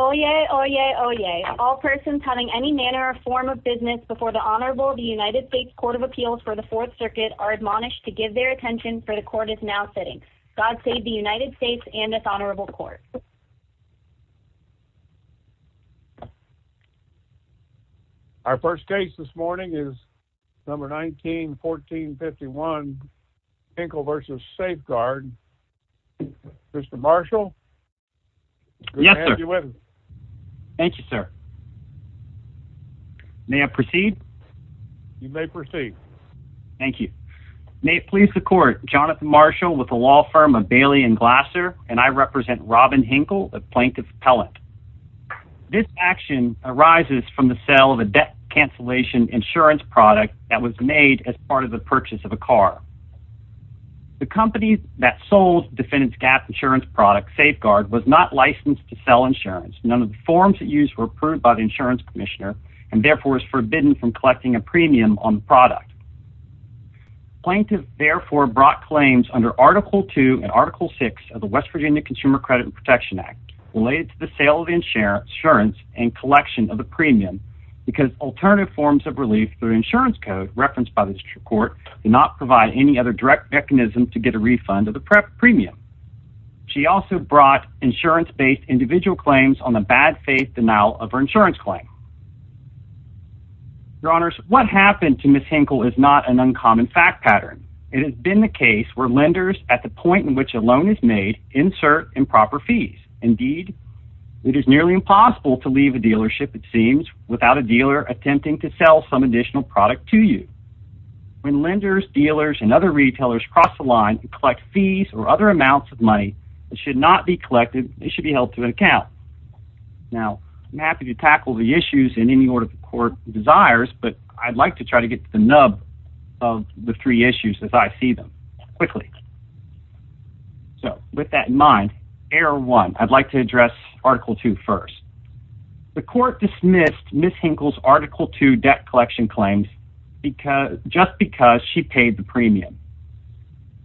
Oyez, Oyez, Oyez. All persons having any manner or form of business before the Honorable United States Court of Appeals for the Fourth Circuit are admonished to give their attention for the Court is now sitting. God save the United States and this Honorable Court. Our first case this morning is number 1914-51 Hinkle v. Safe-Guard. Mr. Marshall. Yes, sir. Thank you, sir. May I proceed? You may proceed. Thank you. May it please the Court, Jonathan Marshall with the law firm of Bailey and Glasser and I represent Robin Hinkle, a plaintiff's appellant. This action arises from the sale of a debt cancellation insurance product that was made as part of the purchase of a car. The company that sold the defendant's gas insurance product, Safe-Guard, was not licensed to sell insurance. None of the forms it used were approved by the insurance commissioner and therefore is forbidden from collecting a premium on the product. Plaintiff therefore brought claims under Article 2 and Article 6 of the West Virginia Consumer Credit and Protection Act related to the sale of insurance and collection of a premium because alternative forms of relief through insurance code referenced by the court do not provide any other direct mechanism to get a refund of the premium. She also brought insurance-based individual claims on the bad faith denial of her insurance claim. Your Honors, what happened to Ms. Hinkle is not an uncommon fact pattern. It has been the case where lenders, at the point in which a loan is made, insert improper fees. Indeed, it is nearly impossible to leave a dealership, it seems, without a dealer attempting to sell some additional product to you. When lenders, dealers, and other retailers cross the line and collect fees or other amounts of money that should not be collected, they should be held to account. Now, I'm happy to tackle the issues in any order the court desires, but I'd like to try to get to the nub of the three issues as I see them quickly. So, with that in mind, Error 1, I'd like to address Article 2 first. The court dismissed Ms. Hinkle's Article 2 debt collection claims just because she paid the premium.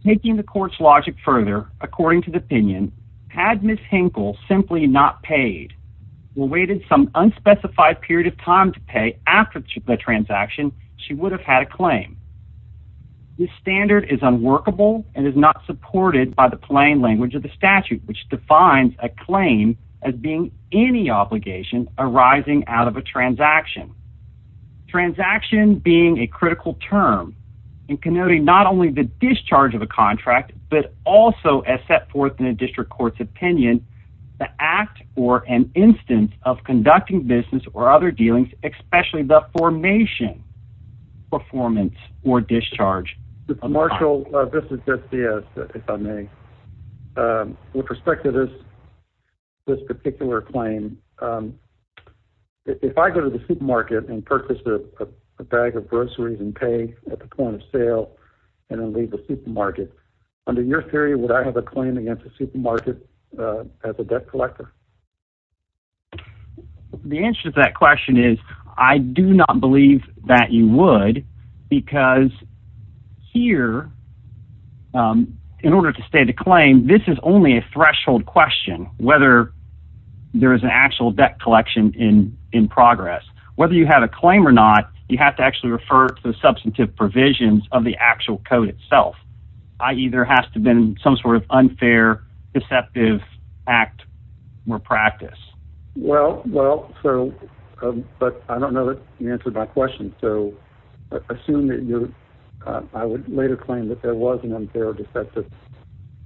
Taking the court's logic further, according to the opinion, had Ms. Hinkle simply not paid, or waited some unspecified period of time to pay after the transaction, she would have had a claim. This standard is unworkable and is not supported by the plain language of the statute, which defines a claim as being any obligation arising out of a transaction. Transaction being a critical term and connoting not only the discharge of a contract, but also, as set forth in a district court's opinion, the act or an instance of conducting business or other dealings, especially the formation, performance, or discharge. Mr. Marshall, this is SDS, if I may. With respect to this particular claim, if I go to the supermarket and purchase a bag of groceries and pay at the point of sale and leave the supermarket, under your theory, would I have a claim against the supermarket as a debt collector? The answer to that question is I do not believe that you would, because here, in order to state a claim, this is only a threshold question, whether there is an actual debt collection in progress. Whether you have a claim or not, you have to actually refer to the substantive provisions of the actual code itself, i.e., there has to have been some sort of unfair, deceptive act or practice. Well, so, but I don't know that you answered my question, so assume that I would later claim that there was an unfair or deceptive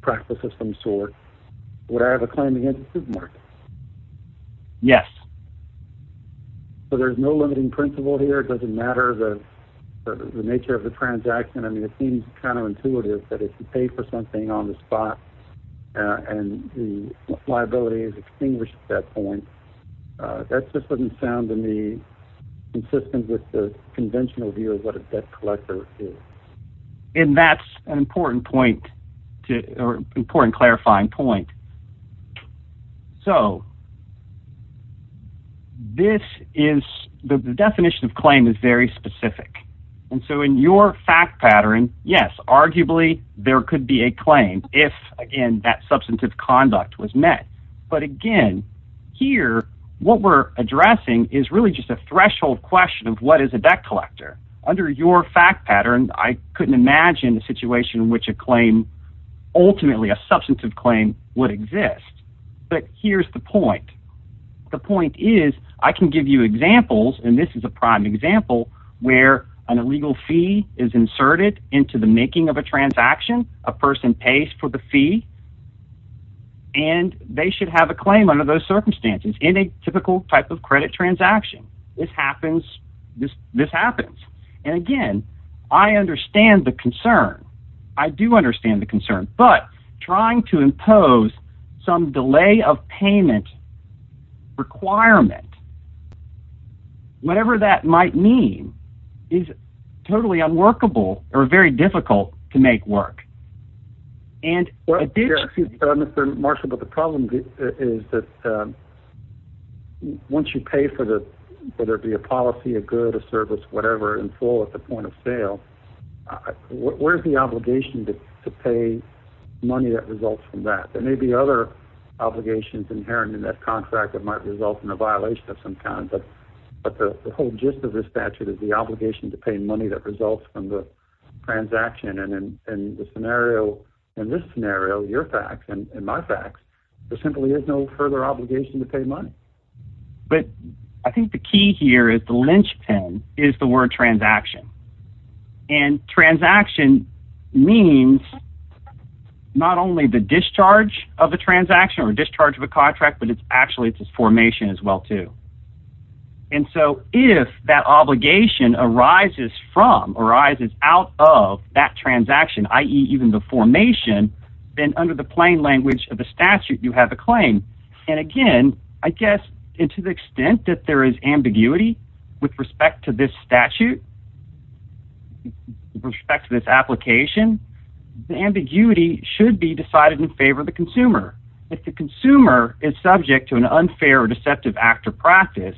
practice of some sort. Would I have a claim against the supermarket? Yes. So there's no limiting principle here? It doesn't matter the nature of the transaction? I mean, it seems kind of intuitive that if you pay for something on the spot and the liability is extinguished at that point, that just doesn't sound to me consistent with the conventional view of what a debt collector is. And that's an important point, or important clarifying point. So, this is, the definition of claim is very specific, and so in your fact pattern, yes, arguably there could be a claim if, again, that substantive conduct was met. But again, here, what we're addressing is really just a threshold question of what is a debt collector. Under your fact pattern, I couldn't imagine a situation in which a claim, ultimately a substantive claim, would exist. But here's the point. The point is, I can give you examples, and this is a prime example, where an illegal fee is inserted into the making of a transaction. A person pays for the fee, and they should have a claim under those circumstances in a typical type of credit transaction. This happens. And again, I understand the concern. I do understand the concern. But trying to impose some delay of payment requirement, whatever that might mean, is totally unworkable, or very difficult to make work. Excuse me, Mr. Marshall, but the problem is that once you pay for the, whether it be a policy, a good, a service, whatever, in full at the point of sale, where's the obligation to pay money that results from that? There may be other obligations inherent in that contract that might result in a violation of some kind. But the whole gist of this statute is the obligation to pay money that results from the transaction. And in this scenario, your facts and my facts, there simply is no further obligation to pay money. But I think the key here is the linchpin is the word transaction. And transaction means not only the discharge of a transaction or discharge of a contract, but it's actually its formation as well, too. And so if that obligation arises from, arises out of that transaction, i.e., even the formation, then under the plain language of the statute, you have a claim. And again, I guess to the extent that there is ambiguity with respect to this statute, with respect to this application, the ambiguity should be decided in favor of the consumer. If the consumer is subject to an unfair or deceptive act or practice,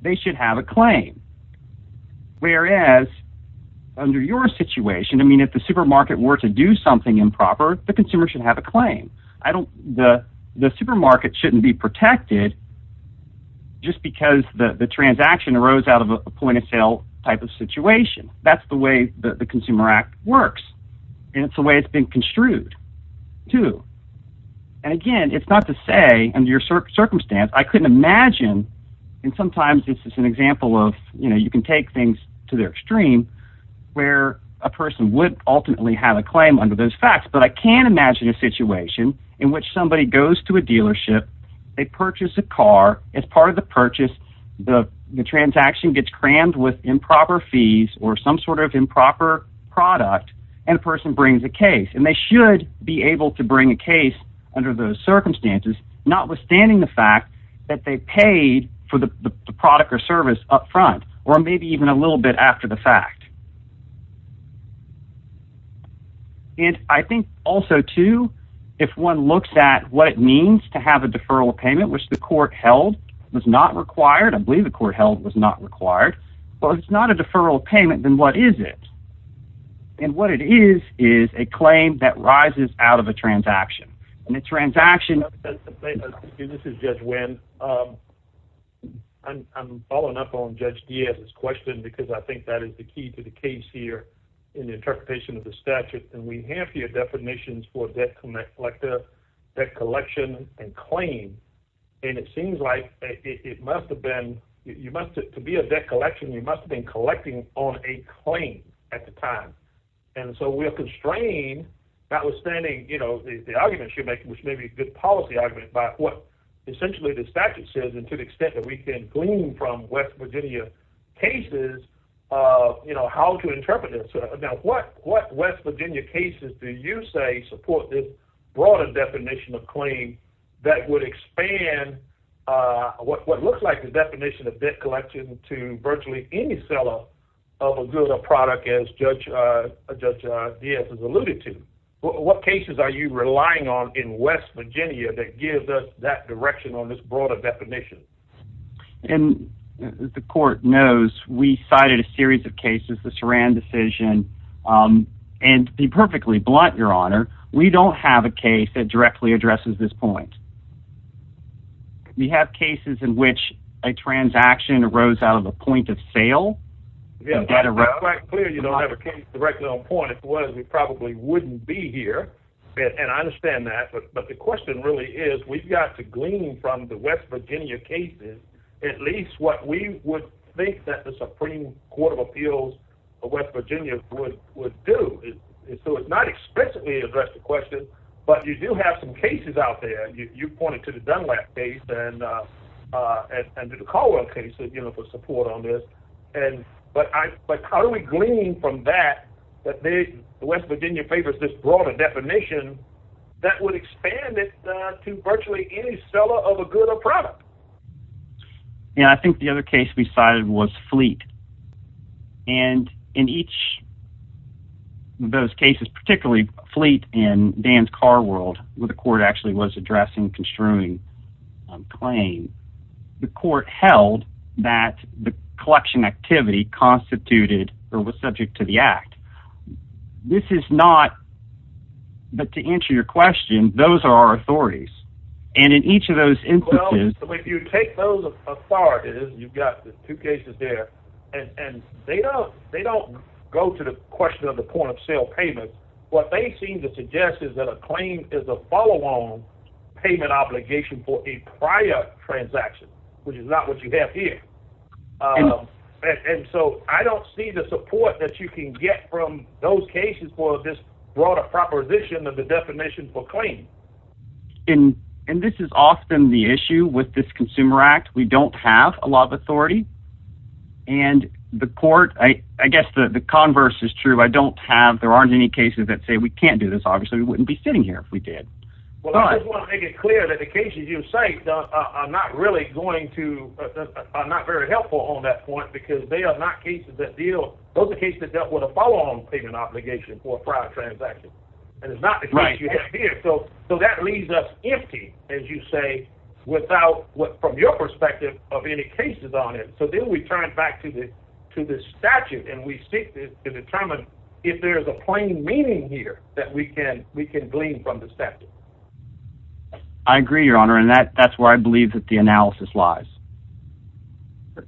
they should have a claim. Whereas, under your situation, I mean, if the supermarket were to do something improper, the consumer should have a claim. The supermarket shouldn't be protected just because the transaction arose out of a point-of-sale type of situation. That's the way the Consumer Act works, and it's the way it's been construed, too. And again, it's not to say under your circumstance. I couldn't imagine, and sometimes this is an example of, you know, you can take things to their extreme where a person would ultimately have a claim under those facts. But I can imagine a situation in which somebody goes to a dealership. They purchase a car. As part of the purchase, the transaction gets crammed with improper fees or some sort of improper product, and a person brings a case. And they should be able to bring a case under those circumstances, notwithstanding the fact that they paid for the product or service up front or maybe even a little bit after the fact. And I think also, too, if one looks at what it means to have a deferral of payment, which the court held was not required. I believe the court held it was not required. Well, if it's not a deferral of payment, then what is it? And what it is is a claim that rises out of a transaction. This is Judge Wynn. I'm following up on Judge Diaz's question because I think that is the key to the case here in the interpretation of the statute. And we have here definitions for debt collection and claim. And it seems like it must have been – to be a debt collection, you must have been collecting on a claim at the time. And so we are constrained, notwithstanding the arguments you're making, which may be a good policy argument, by what essentially the statute says and to the extent that we can glean from West Virginia cases how to interpret it. Now, what West Virginia cases do you say support this broader definition of claim that would expand what looks like the definition of debt collection to virtually any seller of a good or product, as Judge Diaz has alluded to? What cases are you relying on in West Virginia that gives us that direction on this broader definition? As the court knows, we cited a series of cases, the Saran decision. And to be perfectly blunt, Your Honor, we don't have a case that directly addresses this point. We have cases in which a transaction arose out of a point of sale. It's quite clear you don't have a case directly on point. It's one we probably wouldn't be here, and I understand that. But the question really is we've got to glean from the West Virginia cases at least what we would think that the Supreme Court of Appeals of West Virginia would do. So it's not explicitly addressed the question, but you do have some cases out there. You pointed to the Dunlap case and to the Caldwell case for support on this. But how do we glean from that that the West Virginia papers this broader definition that would expand it to virtually any seller of a good or product? Yeah, I think the other case we cited was Fleet. And in each of those cases, particularly Fleet and Dan's Car World, where the court actually was addressing construing claims, the court held that the collection activity constituted or was subject to the act. This is not – but to answer your question, those are our authorities. And in each of those instances – Well, if you take those authorities, you've got the two cases there, and they don't go to the question of the point of sale payment. What they seem to suggest is that a claim is a follow-on payment obligation for a prior transaction, which is not what you have here. And so I don't see the support that you can get from those cases for this broader proposition of the definition for claim. And this is often the issue with this Consumer Act. We don't have a law of authority. And the court – I guess the converse is true. I don't have – there aren't any cases that say we can't do this. Obviously, we wouldn't be sitting here if we did. Well, I just want to make it clear that the cases you cite are not really going to – are not very helpful on that point because they are not cases that deal – those are cases that dealt with a follow-on payment obligation for a prior transaction. And it's not the case you have here. So that leaves us empty, as you say, without what – from your perspective of any cases on it. So then we turn it back to the statute, and we seek to determine if there is a plain meaning here that we can glean from the statute. I agree, Your Honor, and that's where I believe that the analysis lies.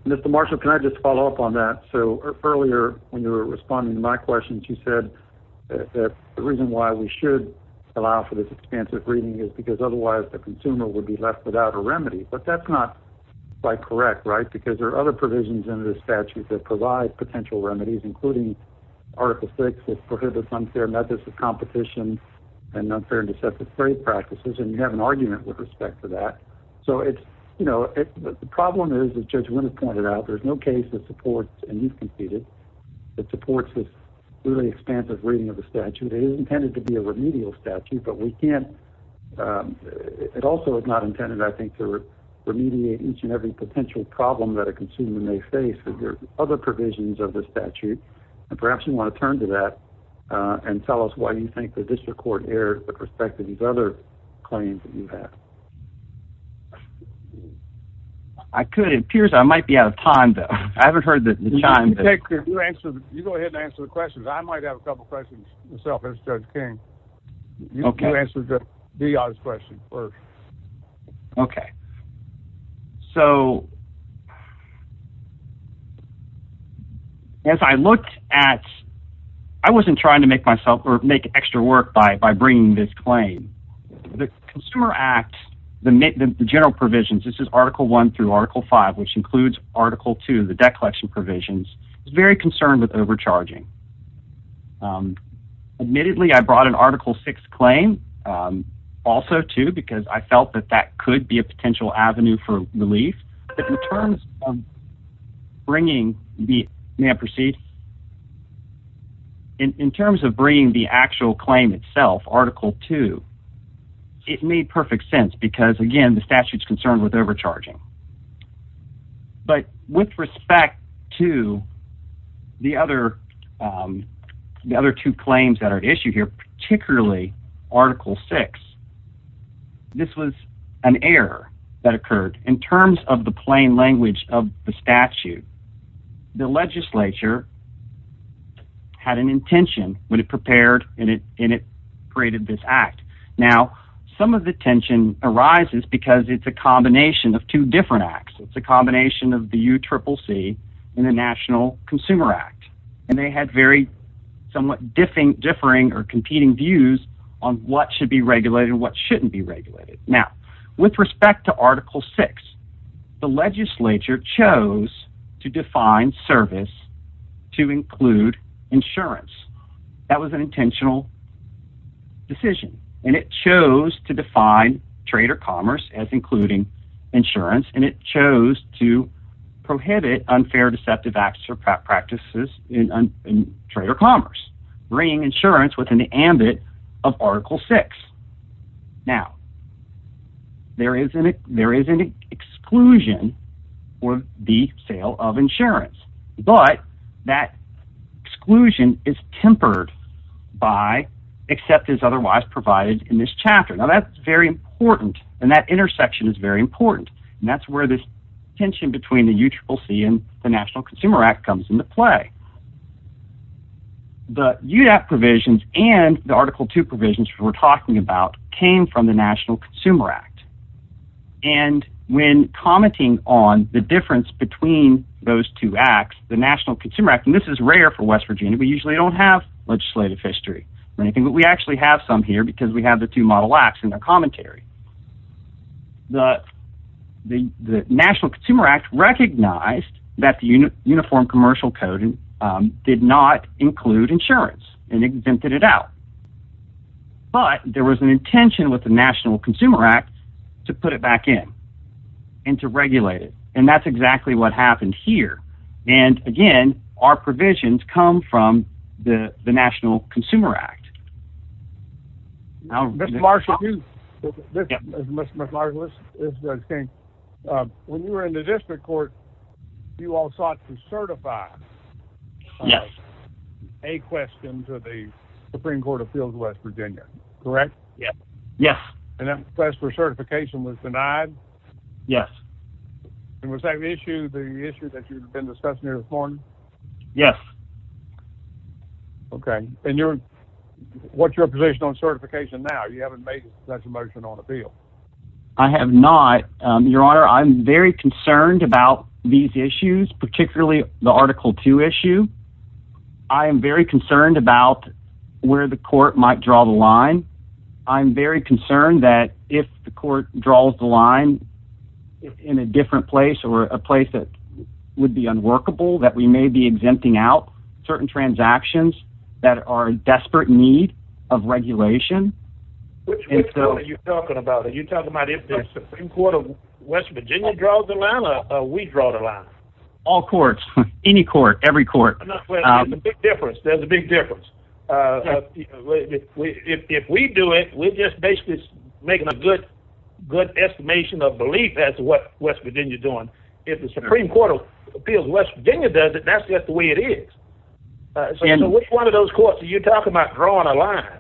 Mr. Marshall, can I just follow up on that? So earlier, when you were responding to my questions, you said that the reason why we should allow for this expansive reading is because otherwise the consumer would be left without a remedy. But that's not quite correct, right? Because there are other provisions in this statute that provide potential remedies, including Article VI, which prohibits unfair methods of competition and unfair and deceptive trade practices. And you have an argument with respect to that. So it's – you know, the problem is, as Judge Winters pointed out, there's no case that supports – and you've conceded – that supports this really expansive reading of the statute. It is intended to be a remedial statute, but we can't – it also is not intended, I think, to remediate each and every potential problem that a consumer may face. There are other provisions of this statute, and perhaps you want to turn to that and tell us why you think the district court erred with respect to these other claims that you have. I could. It appears I might be out of time, though. I haven't heard the chime. You go ahead and answer the questions. I might have a couple questions myself as Judge King. Okay. You answer D.R.'s question first. Okay. So as I looked at – I wasn't trying to make myself – or make extra work by bringing this claim. The Consumer Act, the general provisions – this is Article I through Article V, which includes Article II, the debt collection provisions – was very concerned with overcharging. Admittedly, I brought in Article VI claim also, too, because I felt that that could be a potential avenue for relief. But in terms of bringing – may I proceed? In terms of bringing the actual claim itself, Article II, it made perfect sense because, again, the statute's concerned with overcharging. But with respect to the other two claims that are at issue here, particularly Article VI, this was an error that occurred. In terms of the plain language of the statute, the legislature had an intention when it prepared and it created this act. Now, some of the tension arises because it's a combination of two different acts. It's a combination of the UCCC and the National Consumer Act. And they had very somewhat differing or competing views on what should be regulated and what shouldn't be regulated. Now, with respect to Article VI, the legislature chose to define service to include insurance. That was an intentional decision, and it chose to define trade or commerce as including insurance. And it chose to prohibit unfair deceptive acts or practices in trade or commerce, bringing insurance within the ambit of Article VI. Now, there is an exclusion for the sale of insurance. But that exclusion is tempered by, except as otherwise provided in this chapter. Now, that's very important, and that intersection is very important. And that's where this tension between the UCCC and the National Consumer Act comes into play. The UDAP provisions and the Article II provisions we're talking about came from the National Consumer Act. And when commenting on the difference between those two acts, the National Consumer Act, and this is rare for West Virginia. We usually don't have legislative history or anything, but we actually have some here because we have the two model acts in our commentary. The National Consumer Act recognized that the Uniform Commercial Code did not include insurance and exempted it out. But there was an intention with the National Consumer Act to put it back in and to regulate it. And that's exactly what happened here. And, again, our provisions come from the National Consumer Act. Mr. Marshall, when you were in the district court, you all sought to certify a question to the Supreme Court of Fields, West Virginia, correct? Yes. And that request for certification was denied? Yes. And was that the issue that you've been discussing here this morning? Yes. Okay. And what's your position on certification now? You haven't made such a motion on appeal. I have not. Your Honor, I'm very concerned about these issues, particularly the Article II issue. I am very concerned about where the court might draw the line. I'm very concerned that if the court draws the line in a different place or a place that would be unworkable, that we may be exempting out certain transactions that are in desperate need of regulation. Which court are you talking about? Are you talking about if the Supreme Court of West Virginia draws the line or we draw the line? All courts. Any court. Every court. There's a big difference. There's a big difference. If we do it, we're just basically making a good estimation of belief as to what West Virginia is doing. If the Supreme Court of Fields, West Virginia, does it, that's just the way it is. So which one of those courts are you talking about drawing a line?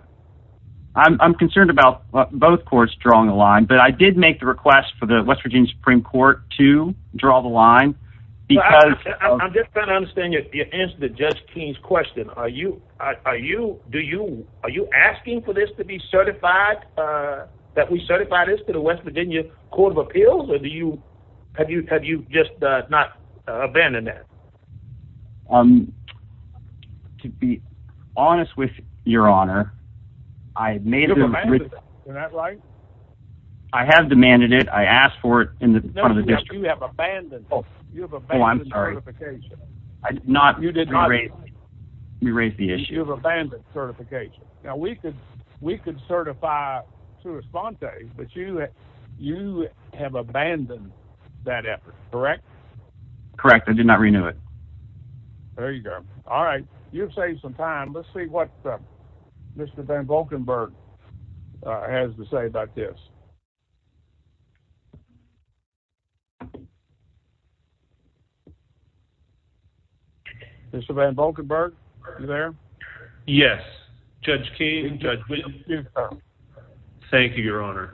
I'm concerned about both courts drawing a line, but I did make the request for the West Virginia Supreme Court to draw the line. I'm just trying to understand your answer to Judge King's question. Are you asking for this to be certified, that we certify this to the West Virginia Court of Appeals? Or have you just not abandoned that? To be honest with you, Your Honor, I have demanded it. I asked for it. No, you have abandoned it. You have abandoned certification. I did not. You did not. You raised the issue. You have abandoned certification. Now, we could certify to Esponte, but you have abandoned that effort, correct? Correct. I did not renew it. There you go. All right. You've saved some time. Let's see what Mr. Van Volkenburg has to say about this. Mr. Van Volkenburg, are you there? Yes. Judge King, Judge Wynn. Thank you, Your Honor.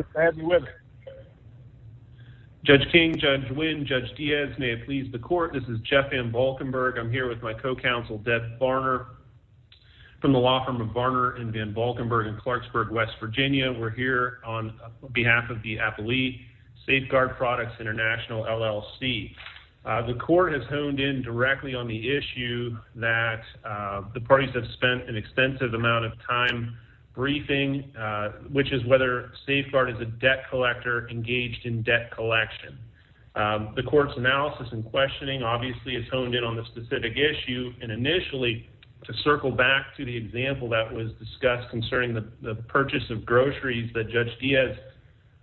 Judge King, Judge Wynn, Judge Diaz, may it please the court, this is Jeff Van Volkenburg. I'm here with my co-counsel, Deb Varner, from the law firm of Varner & Van Volkenburg in Clarksburg, West Virginia. We're here on behalf of the Appalachian Safeguard Products International, LLC. The court has honed in directly on the issue that the parties have spent an extensive amount of time briefing, which is whether Safeguard is a debt collector engaged in debt collection. The court's analysis and questioning, obviously, has honed in on the specific issue. And initially, to circle back to the example that was discussed concerning the purchase of groceries that Judge Diaz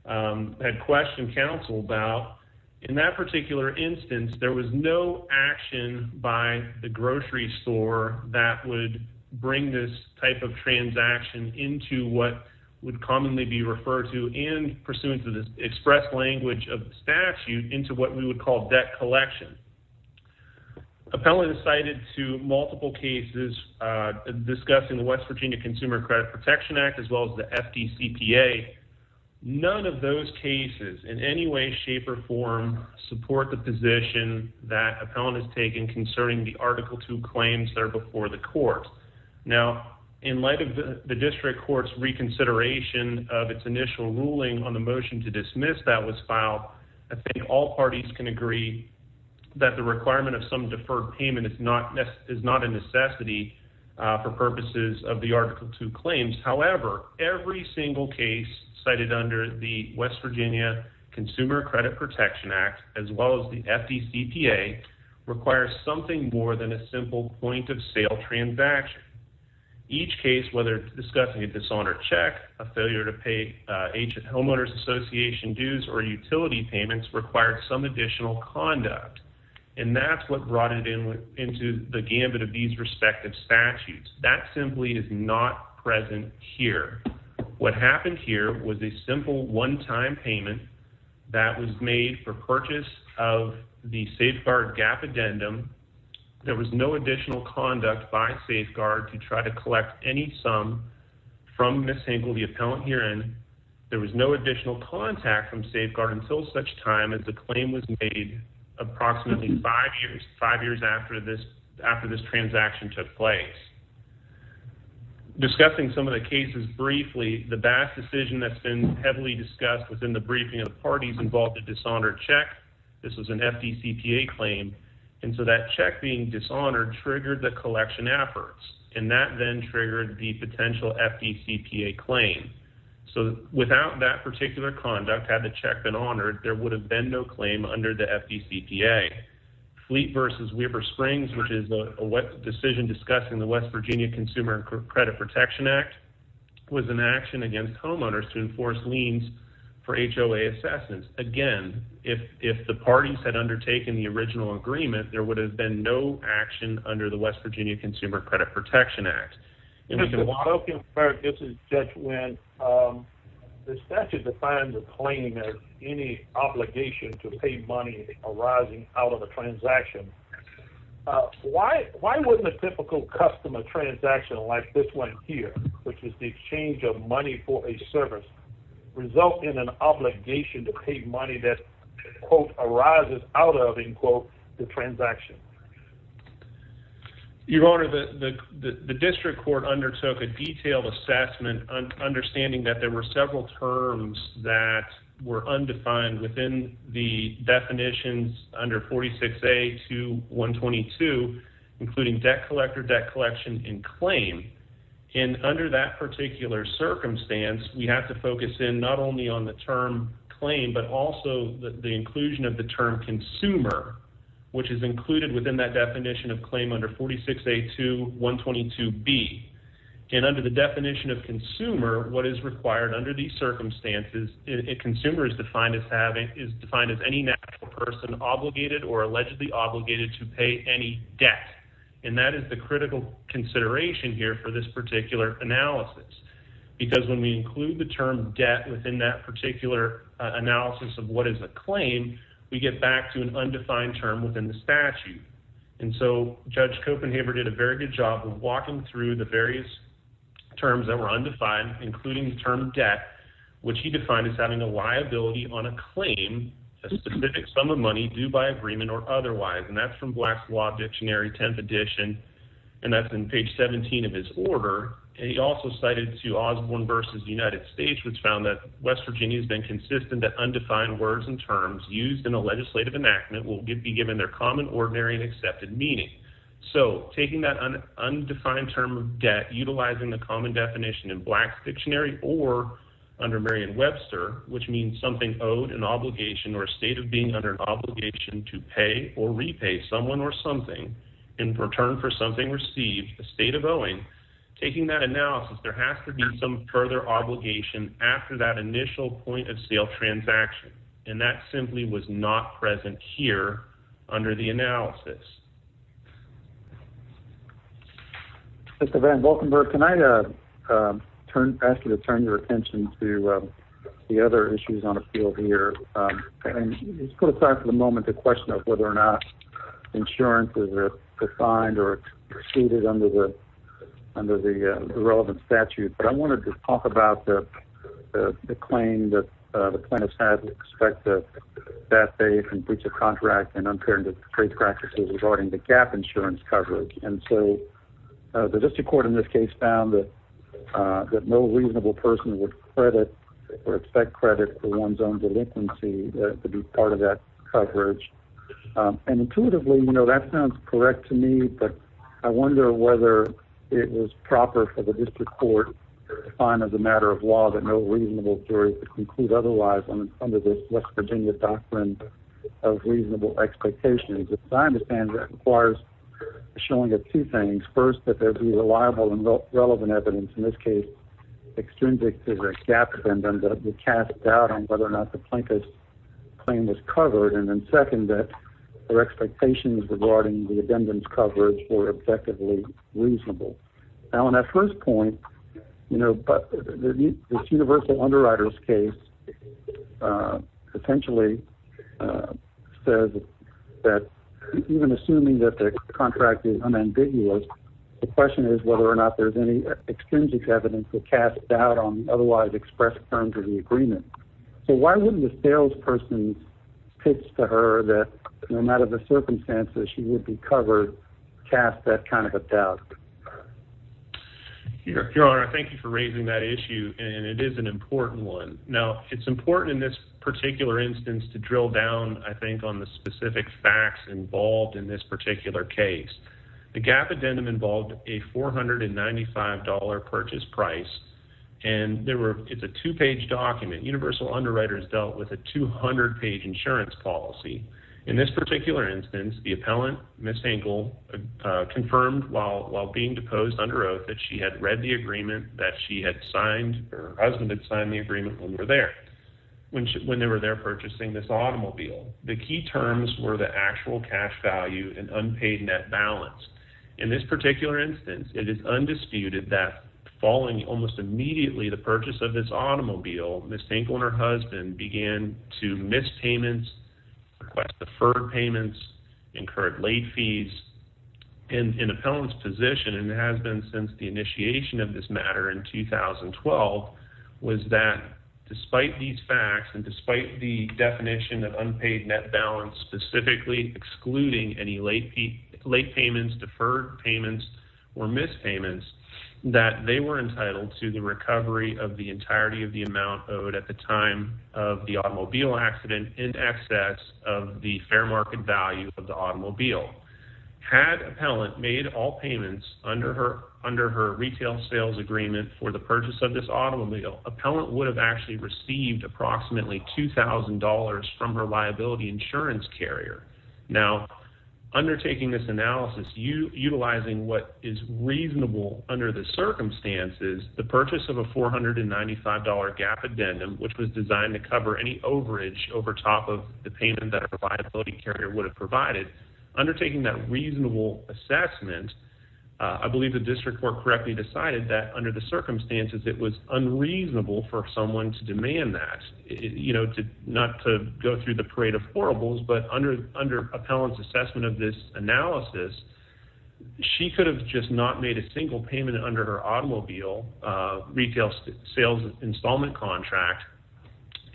had questioned counsel about, in that particular instance, there was no action by the grocery store that would bring this type of transaction into what would commonly be referred to and, pursuant to the express language of the statute, into what we would call debt collection. Appellant is cited to multiple cases discussing the West Virginia Consumer Credit Protection Act, as well as the FDCPA. None of those cases, in any way, shape, or form, support the position that Appellant has taken concerning the Article II claims that are before the court. Now, in light of the district court's reconsideration of its initial ruling on the motion to dismiss that was filed, I think all parties can agree that the requirement of some deferred payment is not a necessity for purposes of the Article II claims. However, every single case cited under the West Virginia Consumer Credit Protection Act, as well as the FDCPA, requires something more than a simple point-of-sale transaction. Each case, whether discussing a dishonored check, a failure to pay homeowners association dues, or utility payments, required some additional conduct. And that's what brought it into the gambit of these respective statutes. That simply is not present here. What happened here was a simple one-time payment that was made for purchase of the safeguard gap addendum. There was no additional conduct by Safeguard to try to collect any sum from Ms. Hinkle, the appellant, herein. There was no additional contact from Safeguard until such time as the claim was made approximately five years after this transaction took place. Discussing some of the cases briefly, the vast decision that's been heavily discussed within the briefing of the parties involved in the dishonored check, this was an FDCPA claim, and so that check being dishonored triggered the collection efforts. And that then triggered the potential FDCPA claim. So without that particular conduct, had the check been honored, there would have been no claim under the FDCPA. Fleet versus Weber Springs, which is a decision discussing the West Virginia Consumer Credit Protection Act, was an action against homeowners to enforce liens for HOA assessments. Again, if the parties had undertaken the original agreement, there would have been no action under the West Virginia Consumer Credit Protection Act. Mr. Wilkins, this is Judge Wendt. The statute defines a claim as any obligation to pay money arising out of a transaction. Why wouldn't a typical customer transaction like this one here, which is the exchange of money for a service, result in an obligation to pay money that, quote, arises out of, end quote, the transaction? Your Honor, the district court undertook a detailed assessment, understanding that there were several terms that were undefined within the definitions under 46A to 122, including debt collector, debt collection, and claim. And under that particular circumstance, we have to focus in not only on the term claim, but also the inclusion of the term consumer, which is included within that definition of claim under 46A to 122B. And under the definition of consumer, what is required under these circumstances, a consumer is defined as any natural person obligated or allegedly obligated to pay any debt. And that is the critical consideration here for this particular analysis. Because when we include the term debt within that particular analysis of what is a claim, we get back to an undefined term within the statute. And so Judge Copenhaver did a very good job of walking through the various terms that were undefined, including the term debt, which he defined as having a liability on a claim, a specific sum of money due by agreement or otherwise. And that's from Black's Law Dictionary, 10th edition, and that's on page 17 of his order. And he also cited Osborne v. United States, which found that West Virginia has been consistent that undefined words and terms used in a legislative enactment will be given their common, ordinary, and accepted meaning. So taking that undefined term of debt, utilizing the common definition in Black's Dictionary or under Merriam-Webster, which means something owed an obligation or a state of being under an obligation to pay or repay someone or something in return for something received, a state of owing, taking that analysis, there has to be some further obligation after that initial point-of-sale transaction. And that simply was not present here under the analysis. Mr. Van Valkenburgh, can I ask you to turn your attention to the other issues on the field here? And let's put aside for the moment the question of whether or not insurance is defined or exceeded under the relevant statute. But I wanted to talk about the claim that the plaintiffs had with respect to that they can breach a contract and unfair trade practices regarding the gap insurance coverage. And so the district court in this case found that no reasonable person would credit or expect credit for one's own delinquency to be part of that coverage. And intuitively, you know, that sounds correct to me. But I wonder whether it was proper for the district court to define as a matter of law that no reasonable jury was to conclude otherwise under this West Virginia doctrine of reasonable expectations. As I understand it, that requires showing two things. First, that there be reliable and relevant evidence, in this case, extrinsic to the gap defendant that would cast doubt on whether or not the plaintiff's claim was covered. And then second, that their expectations regarding the defendant's coverage were objectively reasonable. Now, on that first point, you know, this universal underwriters case potentially says that even assuming that the contract is unambiguous, the question is whether or not there's any extrinsic evidence to cast doubt on otherwise expressed terms of the agreement. So why wouldn't the salesperson pitch to her that no matter the circumstances she would be covered, cast that kind of a doubt? Your Honor, thank you for raising that issue, and it is an important one. Now, it's important in this particular instance to drill down, I think, on the specific facts involved in this particular case. The gap addendum involved a $495 purchase price. And it's a two-page document. Universal underwriters dealt with a 200-page insurance policy. In this particular instance, the appellant, Ms. Hankel, confirmed while being deposed under oath that she had read the agreement, that her husband had signed the agreement when they were there, when they were there purchasing this automobile. The key terms were the actual cash value and unpaid net balance. In this particular instance, it is undisputed that following almost immediately the purchase of this automobile, Ms. Hankel and her husband began to miss payments, request deferred payments, incurred late fees. And the appellant's position, and it has been since the initiation of this matter in 2012, was that despite these facts and despite the definition of unpaid net balance, specifically excluding any late payments, deferred payments, or missed payments, that they were entitled to the recovery of the entirety of the amount owed at the time of the automobile accident in excess of the fair market value of the automobile. Had appellant made all payments under her retail sales agreement for the purchase of this automobile, appellant would have actually received approximately $2,000 from her liability insurance carrier. Now, undertaking this analysis, utilizing what is reasonable under the circumstances, the purchase of a $495 GAAP addendum, which was designed to cover any overage over top of the payment that a liability carrier would have provided, undertaking that reasonable assessment, I believe the district court correctly decided that under the circumstances, it was unreasonable for someone to demand that, not to go through the parade of horribles, but under appellant's assessment of this analysis, she could have just not made a single payment under her automobile retail sales installment contract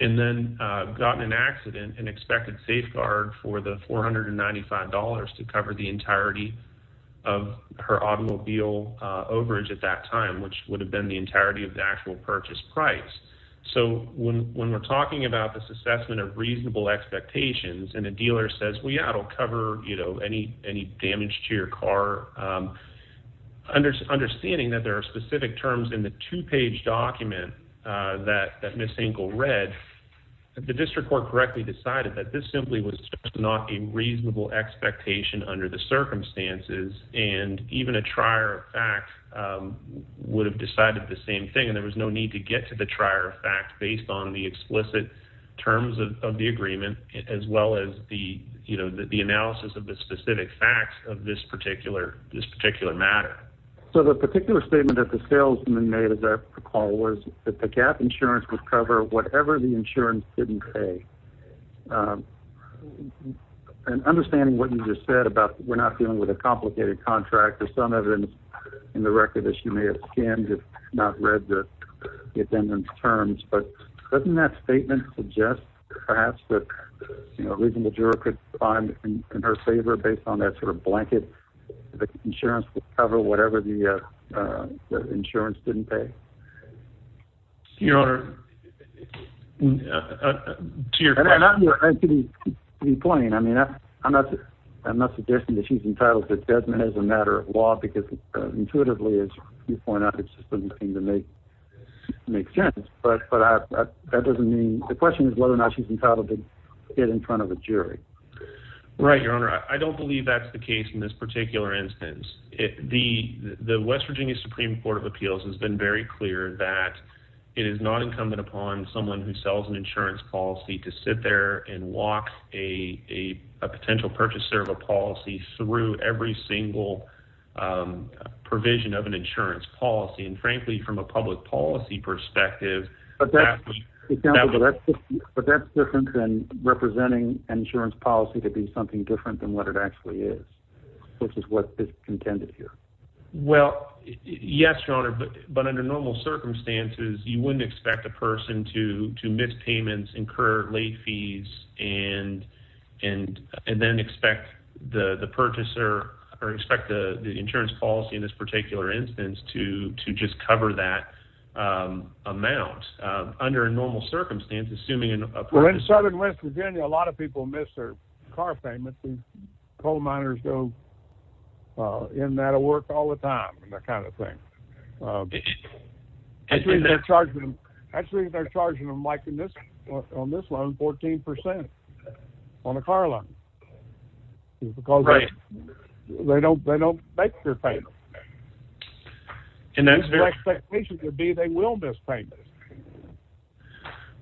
and then gotten an accident and expected safeguard for the $495 to cover the entirety of her automobile overage at that time, which would have been the entirety of the actual purchase price. So when we're talking about this assessment of reasonable expectations, and a dealer says, well, yeah, it'll cover any damage to your car, understanding that there are specific terms in the two-page document that Ms. Ingle read, the district court correctly decided that this simply was not a reasonable expectation under the circumstances, and even a trier of fact would have decided the same thing, and there was no need to get to the trier of fact based on the explicit terms of the agreement, as well as the analysis of the specific facts of this particular matter. So the particular statement that the salesman made, as I recall, was that the GAAP insurance would cover whatever the insurance didn't pay, and understanding what you just said about we're not dealing with a complicated contract, there's some evidence in the record that she may have skimmed, but doesn't that statement suggest perhaps that a reasonable juror could find in her favor, based on that sort of blanket that the insurance would cover whatever the insurance didn't pay? To your point, I mean, I'm not suggesting that she's entitled to judgment as a matter of law, because intuitively, as you point out, it just doesn't seem to make sense, but that doesn't mean, the question is whether or not she's entitled to get in front of a jury. Right, Your Honor, I don't believe that's the case in this particular instance. The West Virginia Supreme Court of Appeals has been very clear that it is not incumbent upon someone who sells an insurance policy to sit there and walk a potential purchaser of a policy through every single provision of an insurance policy. And frankly, from a public policy perspective... But that's different than representing an insurance policy to be something different than what it actually is, which is what is contended here. Well, yes, Your Honor, but under normal circumstances, you wouldn't expect a person to miss payments, incur late fees, and then expect the purchaser or expect the insurance policy in this particular instance to just cover that amount under normal circumstances, assuming a purchaser... Well, in Southern West Virginia, a lot of people miss their car payments, and coal miners go in and out of work all the time, that kind of thing. Actually, they're charging them, like on this loan, 14% on a car loan. Right. Because they don't make their payments. And that's very... The expectation would be they will miss payments.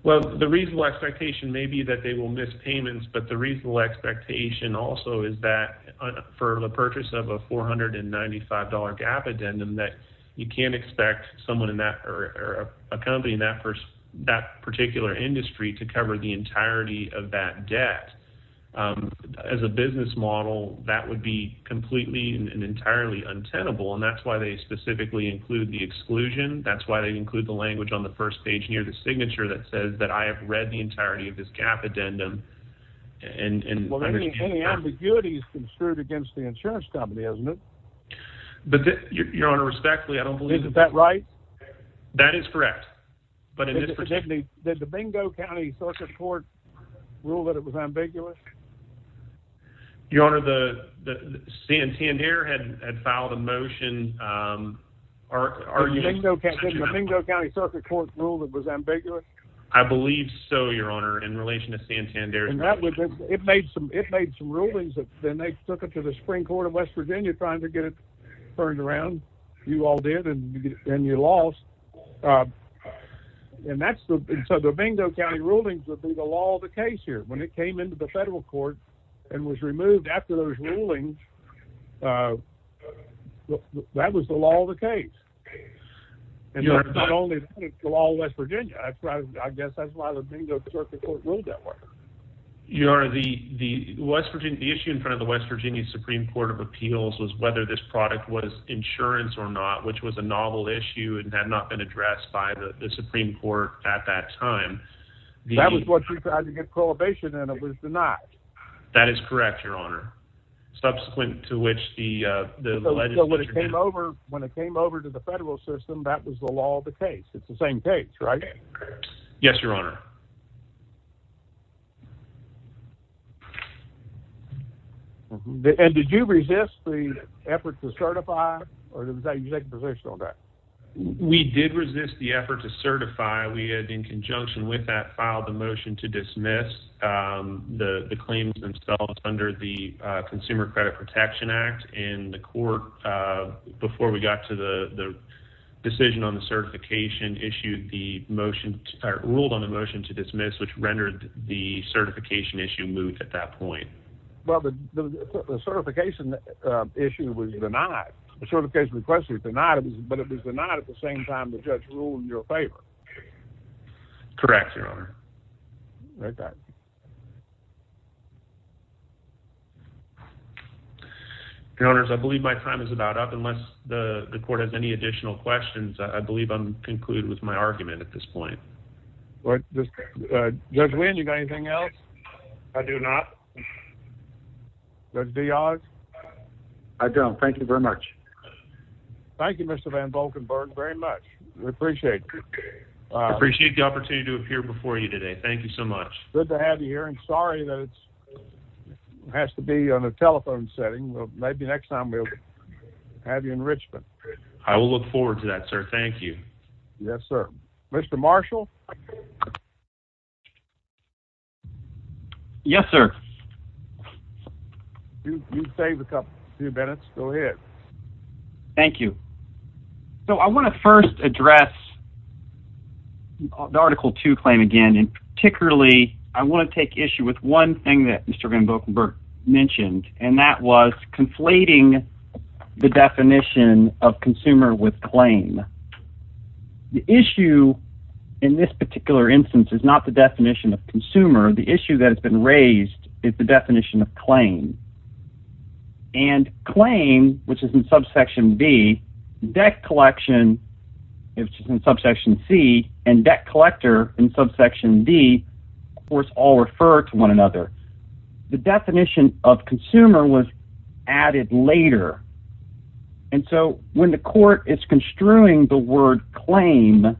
Well, the reasonable expectation may be that they will miss payments, but the reasonable expectation also is that for the purchase of a $495 GAAP addendum that you can't expect someone in that or a company in that particular industry to cover the entirety of that debt. As a business model, that would be completely and entirely untenable, and that's why they specifically include the exclusion. That's why they include the language on the first page near the signature that says that I have read the entirety of this GAAP addendum. Well, any ambiguity is construed against the insurance company, isn't it? Your Honor, respectfully, I don't believe... Isn't that right? That is correct. But in this particular... Did the Domingo County Circuit Court rule that it was ambiguous? Your Honor, Santander had filed a motion arguing... Did the Domingo County Circuit Court rule that it was ambiguous? I believe so, Your Honor, in relation to Santander. It made some rulings, and then they took it to the Supreme Court of West Virginia trying to get it turned around. You all did, and you lost. And so the Domingo County rulings would be the law of the case here. When it came into the federal court and was removed after those rulings, that was the law of the case. And not only that, it's the law of West Virginia. I guess that's why the Domingo Circuit Court ruled that way. Your Honor, the issue in front of the West Virginia Supreme Court of Appeals was whether this product was insurance or not, which was a novel issue and had not been addressed by the Supreme Court at that time. That was what you tried to get prohibition, and it was denied. That is correct, Your Honor. Subsequent to which the... So when it came over to the federal system, that was the law of the case. It's the same case, right? Yes, Your Honor. And did you resist the effort to certify, or did you take a position on that? We did resist the effort to certify. We had, in conjunction with that, filed a motion to dismiss the claims themselves under the Consumer Credit Protection Act. And the court, before we got to the decision on the certification, issued the motion, ruled on the motion to dismiss, which rendered the certification issue moot at that point. Well, the certification issue was denied. The certification request was denied, but it was denied at the same time the judge ruled in your favor. Correct, Your Honor. Right back. Your Honors, I believe my time is about up. Unless the court has any additional questions, I believe I'm concluded with my argument at this point. Judge Wynn, do you have anything else? I do not. Judge Deog? I don't. Thank you very much. Thank you, Mr. Van Volkenburg, very much. We appreciate it. I appreciate the opportunity to appear before you today. Thank you so much. Good to have you here. I'm sorry that it has to be on a telephone setting. Maybe next time we'll have you in Richmond. I will look forward to that, sir. Thank you. Yes, sir. Mr. Marshall? Yes, sir. You saved a few minutes. Go ahead. Thank you. So I want to first address the Article 2 claim again, and particularly I want to take issue with one thing that Mr. Van Volkenburg mentioned, and that was conflating the definition of consumer with claim. The issue in this particular instance is not the definition of consumer. The issue that has been raised is the definition of claim. And claim, which is in Subsection D, debt collection, which is in Subsection C, and debt collector in Subsection D, of course, all refer to one another. The definition of consumer was added later. And so when the court is construing the word claim,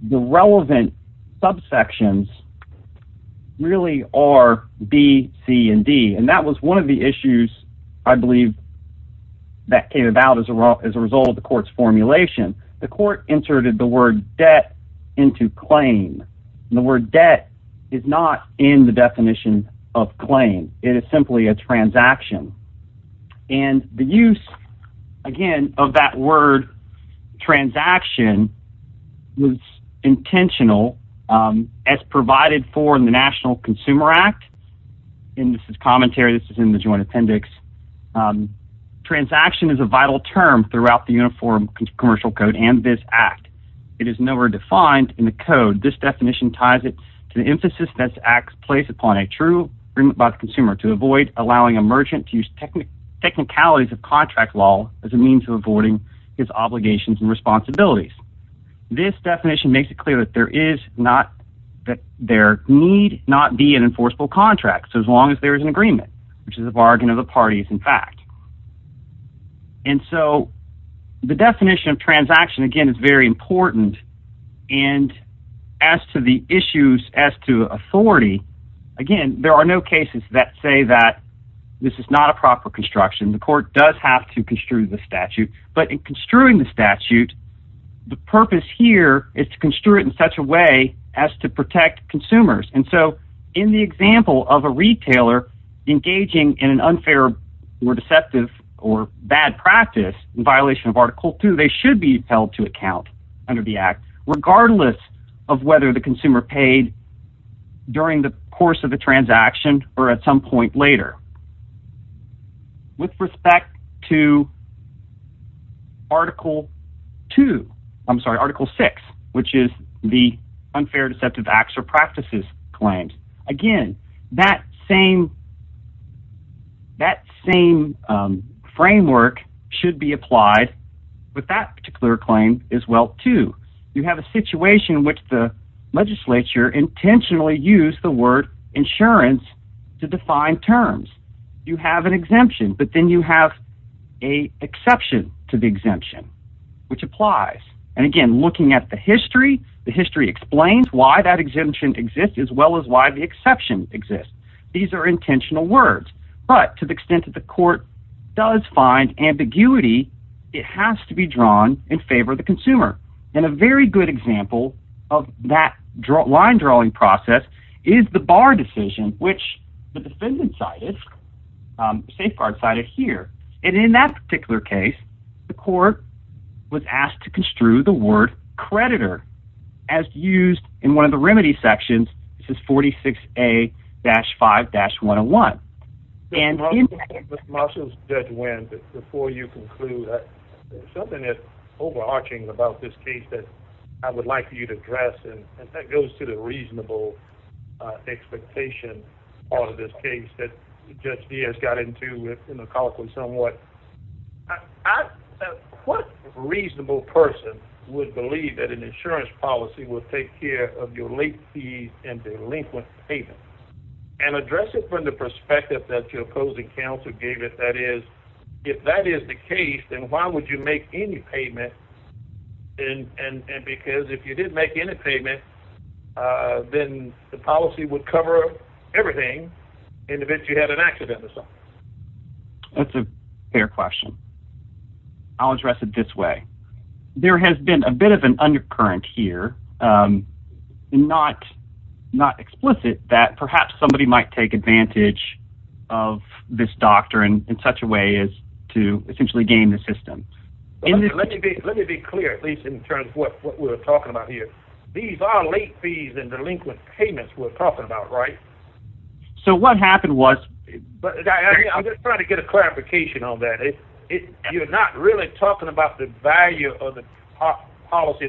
the relevant subsections really are B, C, and D. And that was one of the issues, I believe, that came about as a result of the court's formulation. The court inserted the word debt into claim. The word debt is not in the definition of claim. It is simply a transaction. And the use, again, of that word transaction was intentional as provided for in the National Consumer Act. And this is commentary. This is in the Joint Appendix. Transaction is a vital term throughout the Uniform Commercial Code and this Act. It is nowhere defined in the code. This definition ties it to the emphasis this Act placed upon a true agreement by the consumer to avoid allowing a merchant to use technicalities of contract law as a means of avoiding his obligations and responsibilities. This definition makes it clear that there is not, that there need not be an enforceable contract as long as there is an agreement, which is a bargain of the parties, in fact. And so the definition of transaction, again, is very important. And as to the issues as to authority, again, there are no cases that say that this is not a proper construction. The court does have to construe the statute. But in construing the statute, the purpose here is to construe it in such a way as to protect consumers. And so in the example of a retailer engaging in an unfair or deceptive or bad practice in violation of Article 2, they should be held to account under the Act, regardless of whether the consumer paid during the course of the transaction or at some point later. With respect to Article 2, I'm sorry, Article 6, which is the unfair, deceptive acts or practices claims, again, that same framework should be applied with that particular claim as well, too. You have a situation in which the legislature intentionally used the word insurance to define terms. You have an exemption, but then you have an exception to the exemption, which applies. And again, looking at the history, the history explains why that exemption exists as well as why the exception exists. These are intentional words. But to the extent that the court does find ambiguity, it has to be drawn in favor of the consumer. And a very good example of that line-drawing process is the Barr decision, which the defendant cited, the safeguard cited here. And in that particular case, the court was asked to construe the word creditor, as used in one of the remedy sections. And in that case... Mr. Marshalls, Judge Winn, before you conclude, there's something that's overarching about this case that I would like for you to address, and that goes to the reasonable expectation part of this case that Judge Diaz got into colloquially somewhat. What reasonable person would believe that an insurance policy would take care of your late fees and delinquent payments and address it from the perspective that your opposing counsel gave it? That is, if that is the case, then why would you make any payment? And because if you didn't make any payment, then the policy would cover everything in the event you had an accident or something. That's a fair question. I'll address it this way. There has been a bit of an undercurrent here, not explicit, that perhaps somebody might take advantage of this doctrine in such a way as to essentially gain the system. Let me be clear, at least in terms of what we're talking about here. These are late fees and delinquent payments we're talking about, right? So what happened was... I'm just trying to get a clarification on that. You're not really talking about the value of the policy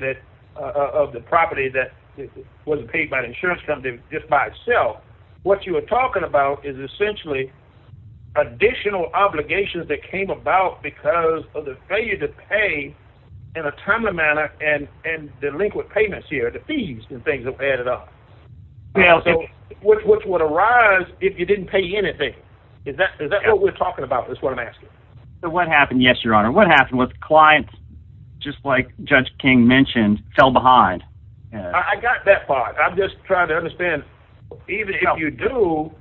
of the property that wasn't paid by the insurance company just by itself. What you are talking about is essentially additional obligations that came about because of the failure to pay in a timely manner and delinquent payments here, the fees and things added up. Which would arise if you didn't pay anything. Is that what we're talking about is what I'm asking? What happened, yes, Your Honor. What happened was clients, just like Judge King mentioned, fell behind. I got that part. I'm just trying to understand, even if you do,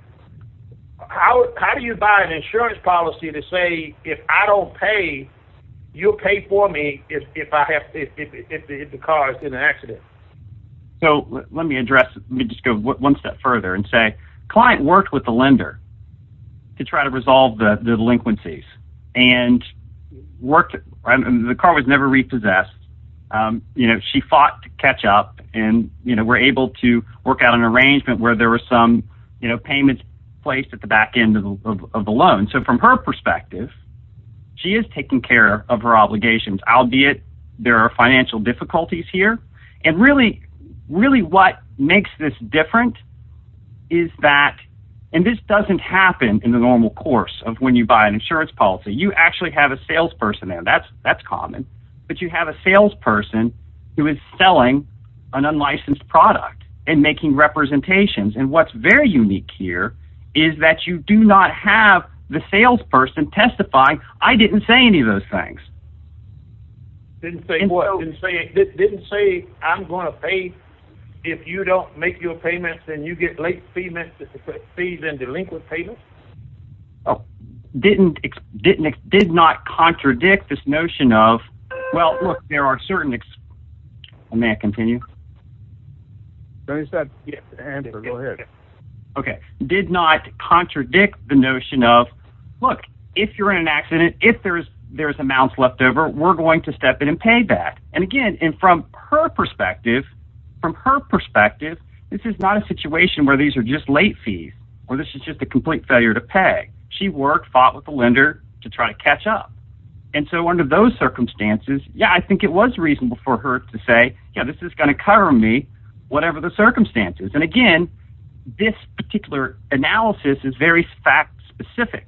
how do you buy an insurance policy to say if I don't pay, you'll pay for me if the car is in an accident? So let me address, let me just go one step further and say client worked with the lender to try to resolve the delinquencies and worked, the car was never repossessed. She fought to catch up and were able to work out an arrangement where there were some payments placed at the back end of the loan. So from her perspective, she is taking care of her obligations, albeit there are financial difficulties here. And really, really what makes this different is that, and this doesn't happen in the normal course of when you buy an insurance policy. You actually have a salesperson there. That's common. But you have a salesperson who is selling an unlicensed product and making representations. And what's very unique here is that you do not have the salesperson testify, I didn't say any of those things. Didn't say what? Didn't say, didn't say I'm going to pay if you don't make your payments and you get late fee messages to put fees in delinquent payments? Oh, didn't, did not contradict this notion of, well, look, there are certain, may I continue? Yes, go ahead. Okay, did not contradict the notion of, look, if you're in an accident, if there's amounts left over, we're going to step in and pay back. And again, and from her perspective, from her perspective, this is not a situation where these are just late fees, or this is just a complete failure to pay. She worked, fought with the lender to try to catch up. And so under those circumstances, yeah, I think it was reasonable for her to say, yeah, this is going to cover me, whatever the circumstances. And again, this particular analysis is very fact specific,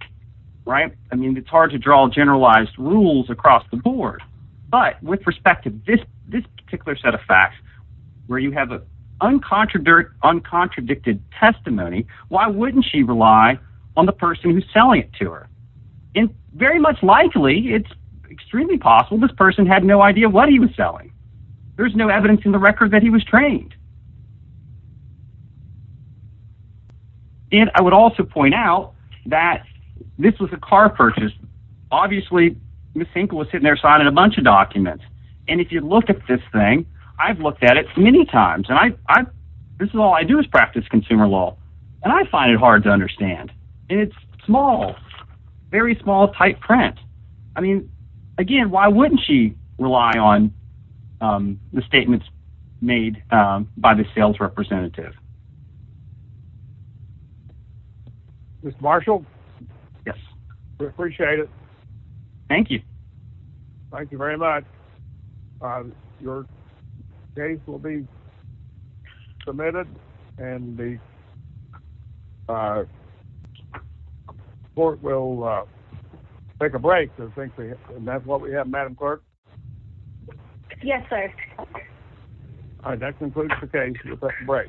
right? I mean, it's hard to draw generalized rules across the board, but with respect to this, this particular set of facts, where you have an uncontradicted testimony, why wouldn't she rely on the person who's selling it to her? And very much likely, it's extremely possible this person had no idea what he was selling. There's no evidence in the record that he was trained. And I would also point out that this was a car purchase. Obviously, Ms. Finkel was sitting there signing a bunch of documents. And if you look at this thing, I've looked at it many times. And this is all I do is practice consumer law. And I find it hard to understand. And it's small, very small, tight print. I mean, again, why wouldn't she rely on the statements made by the sales representative? Mr. Marshall? Yes. We appreciate it. Thank you. Thank you very much. Your case will be submitted. And the court will take a break. And that's what we have. Madam Clerk? Yes, sir. All right. That concludes the case. We'll take a break.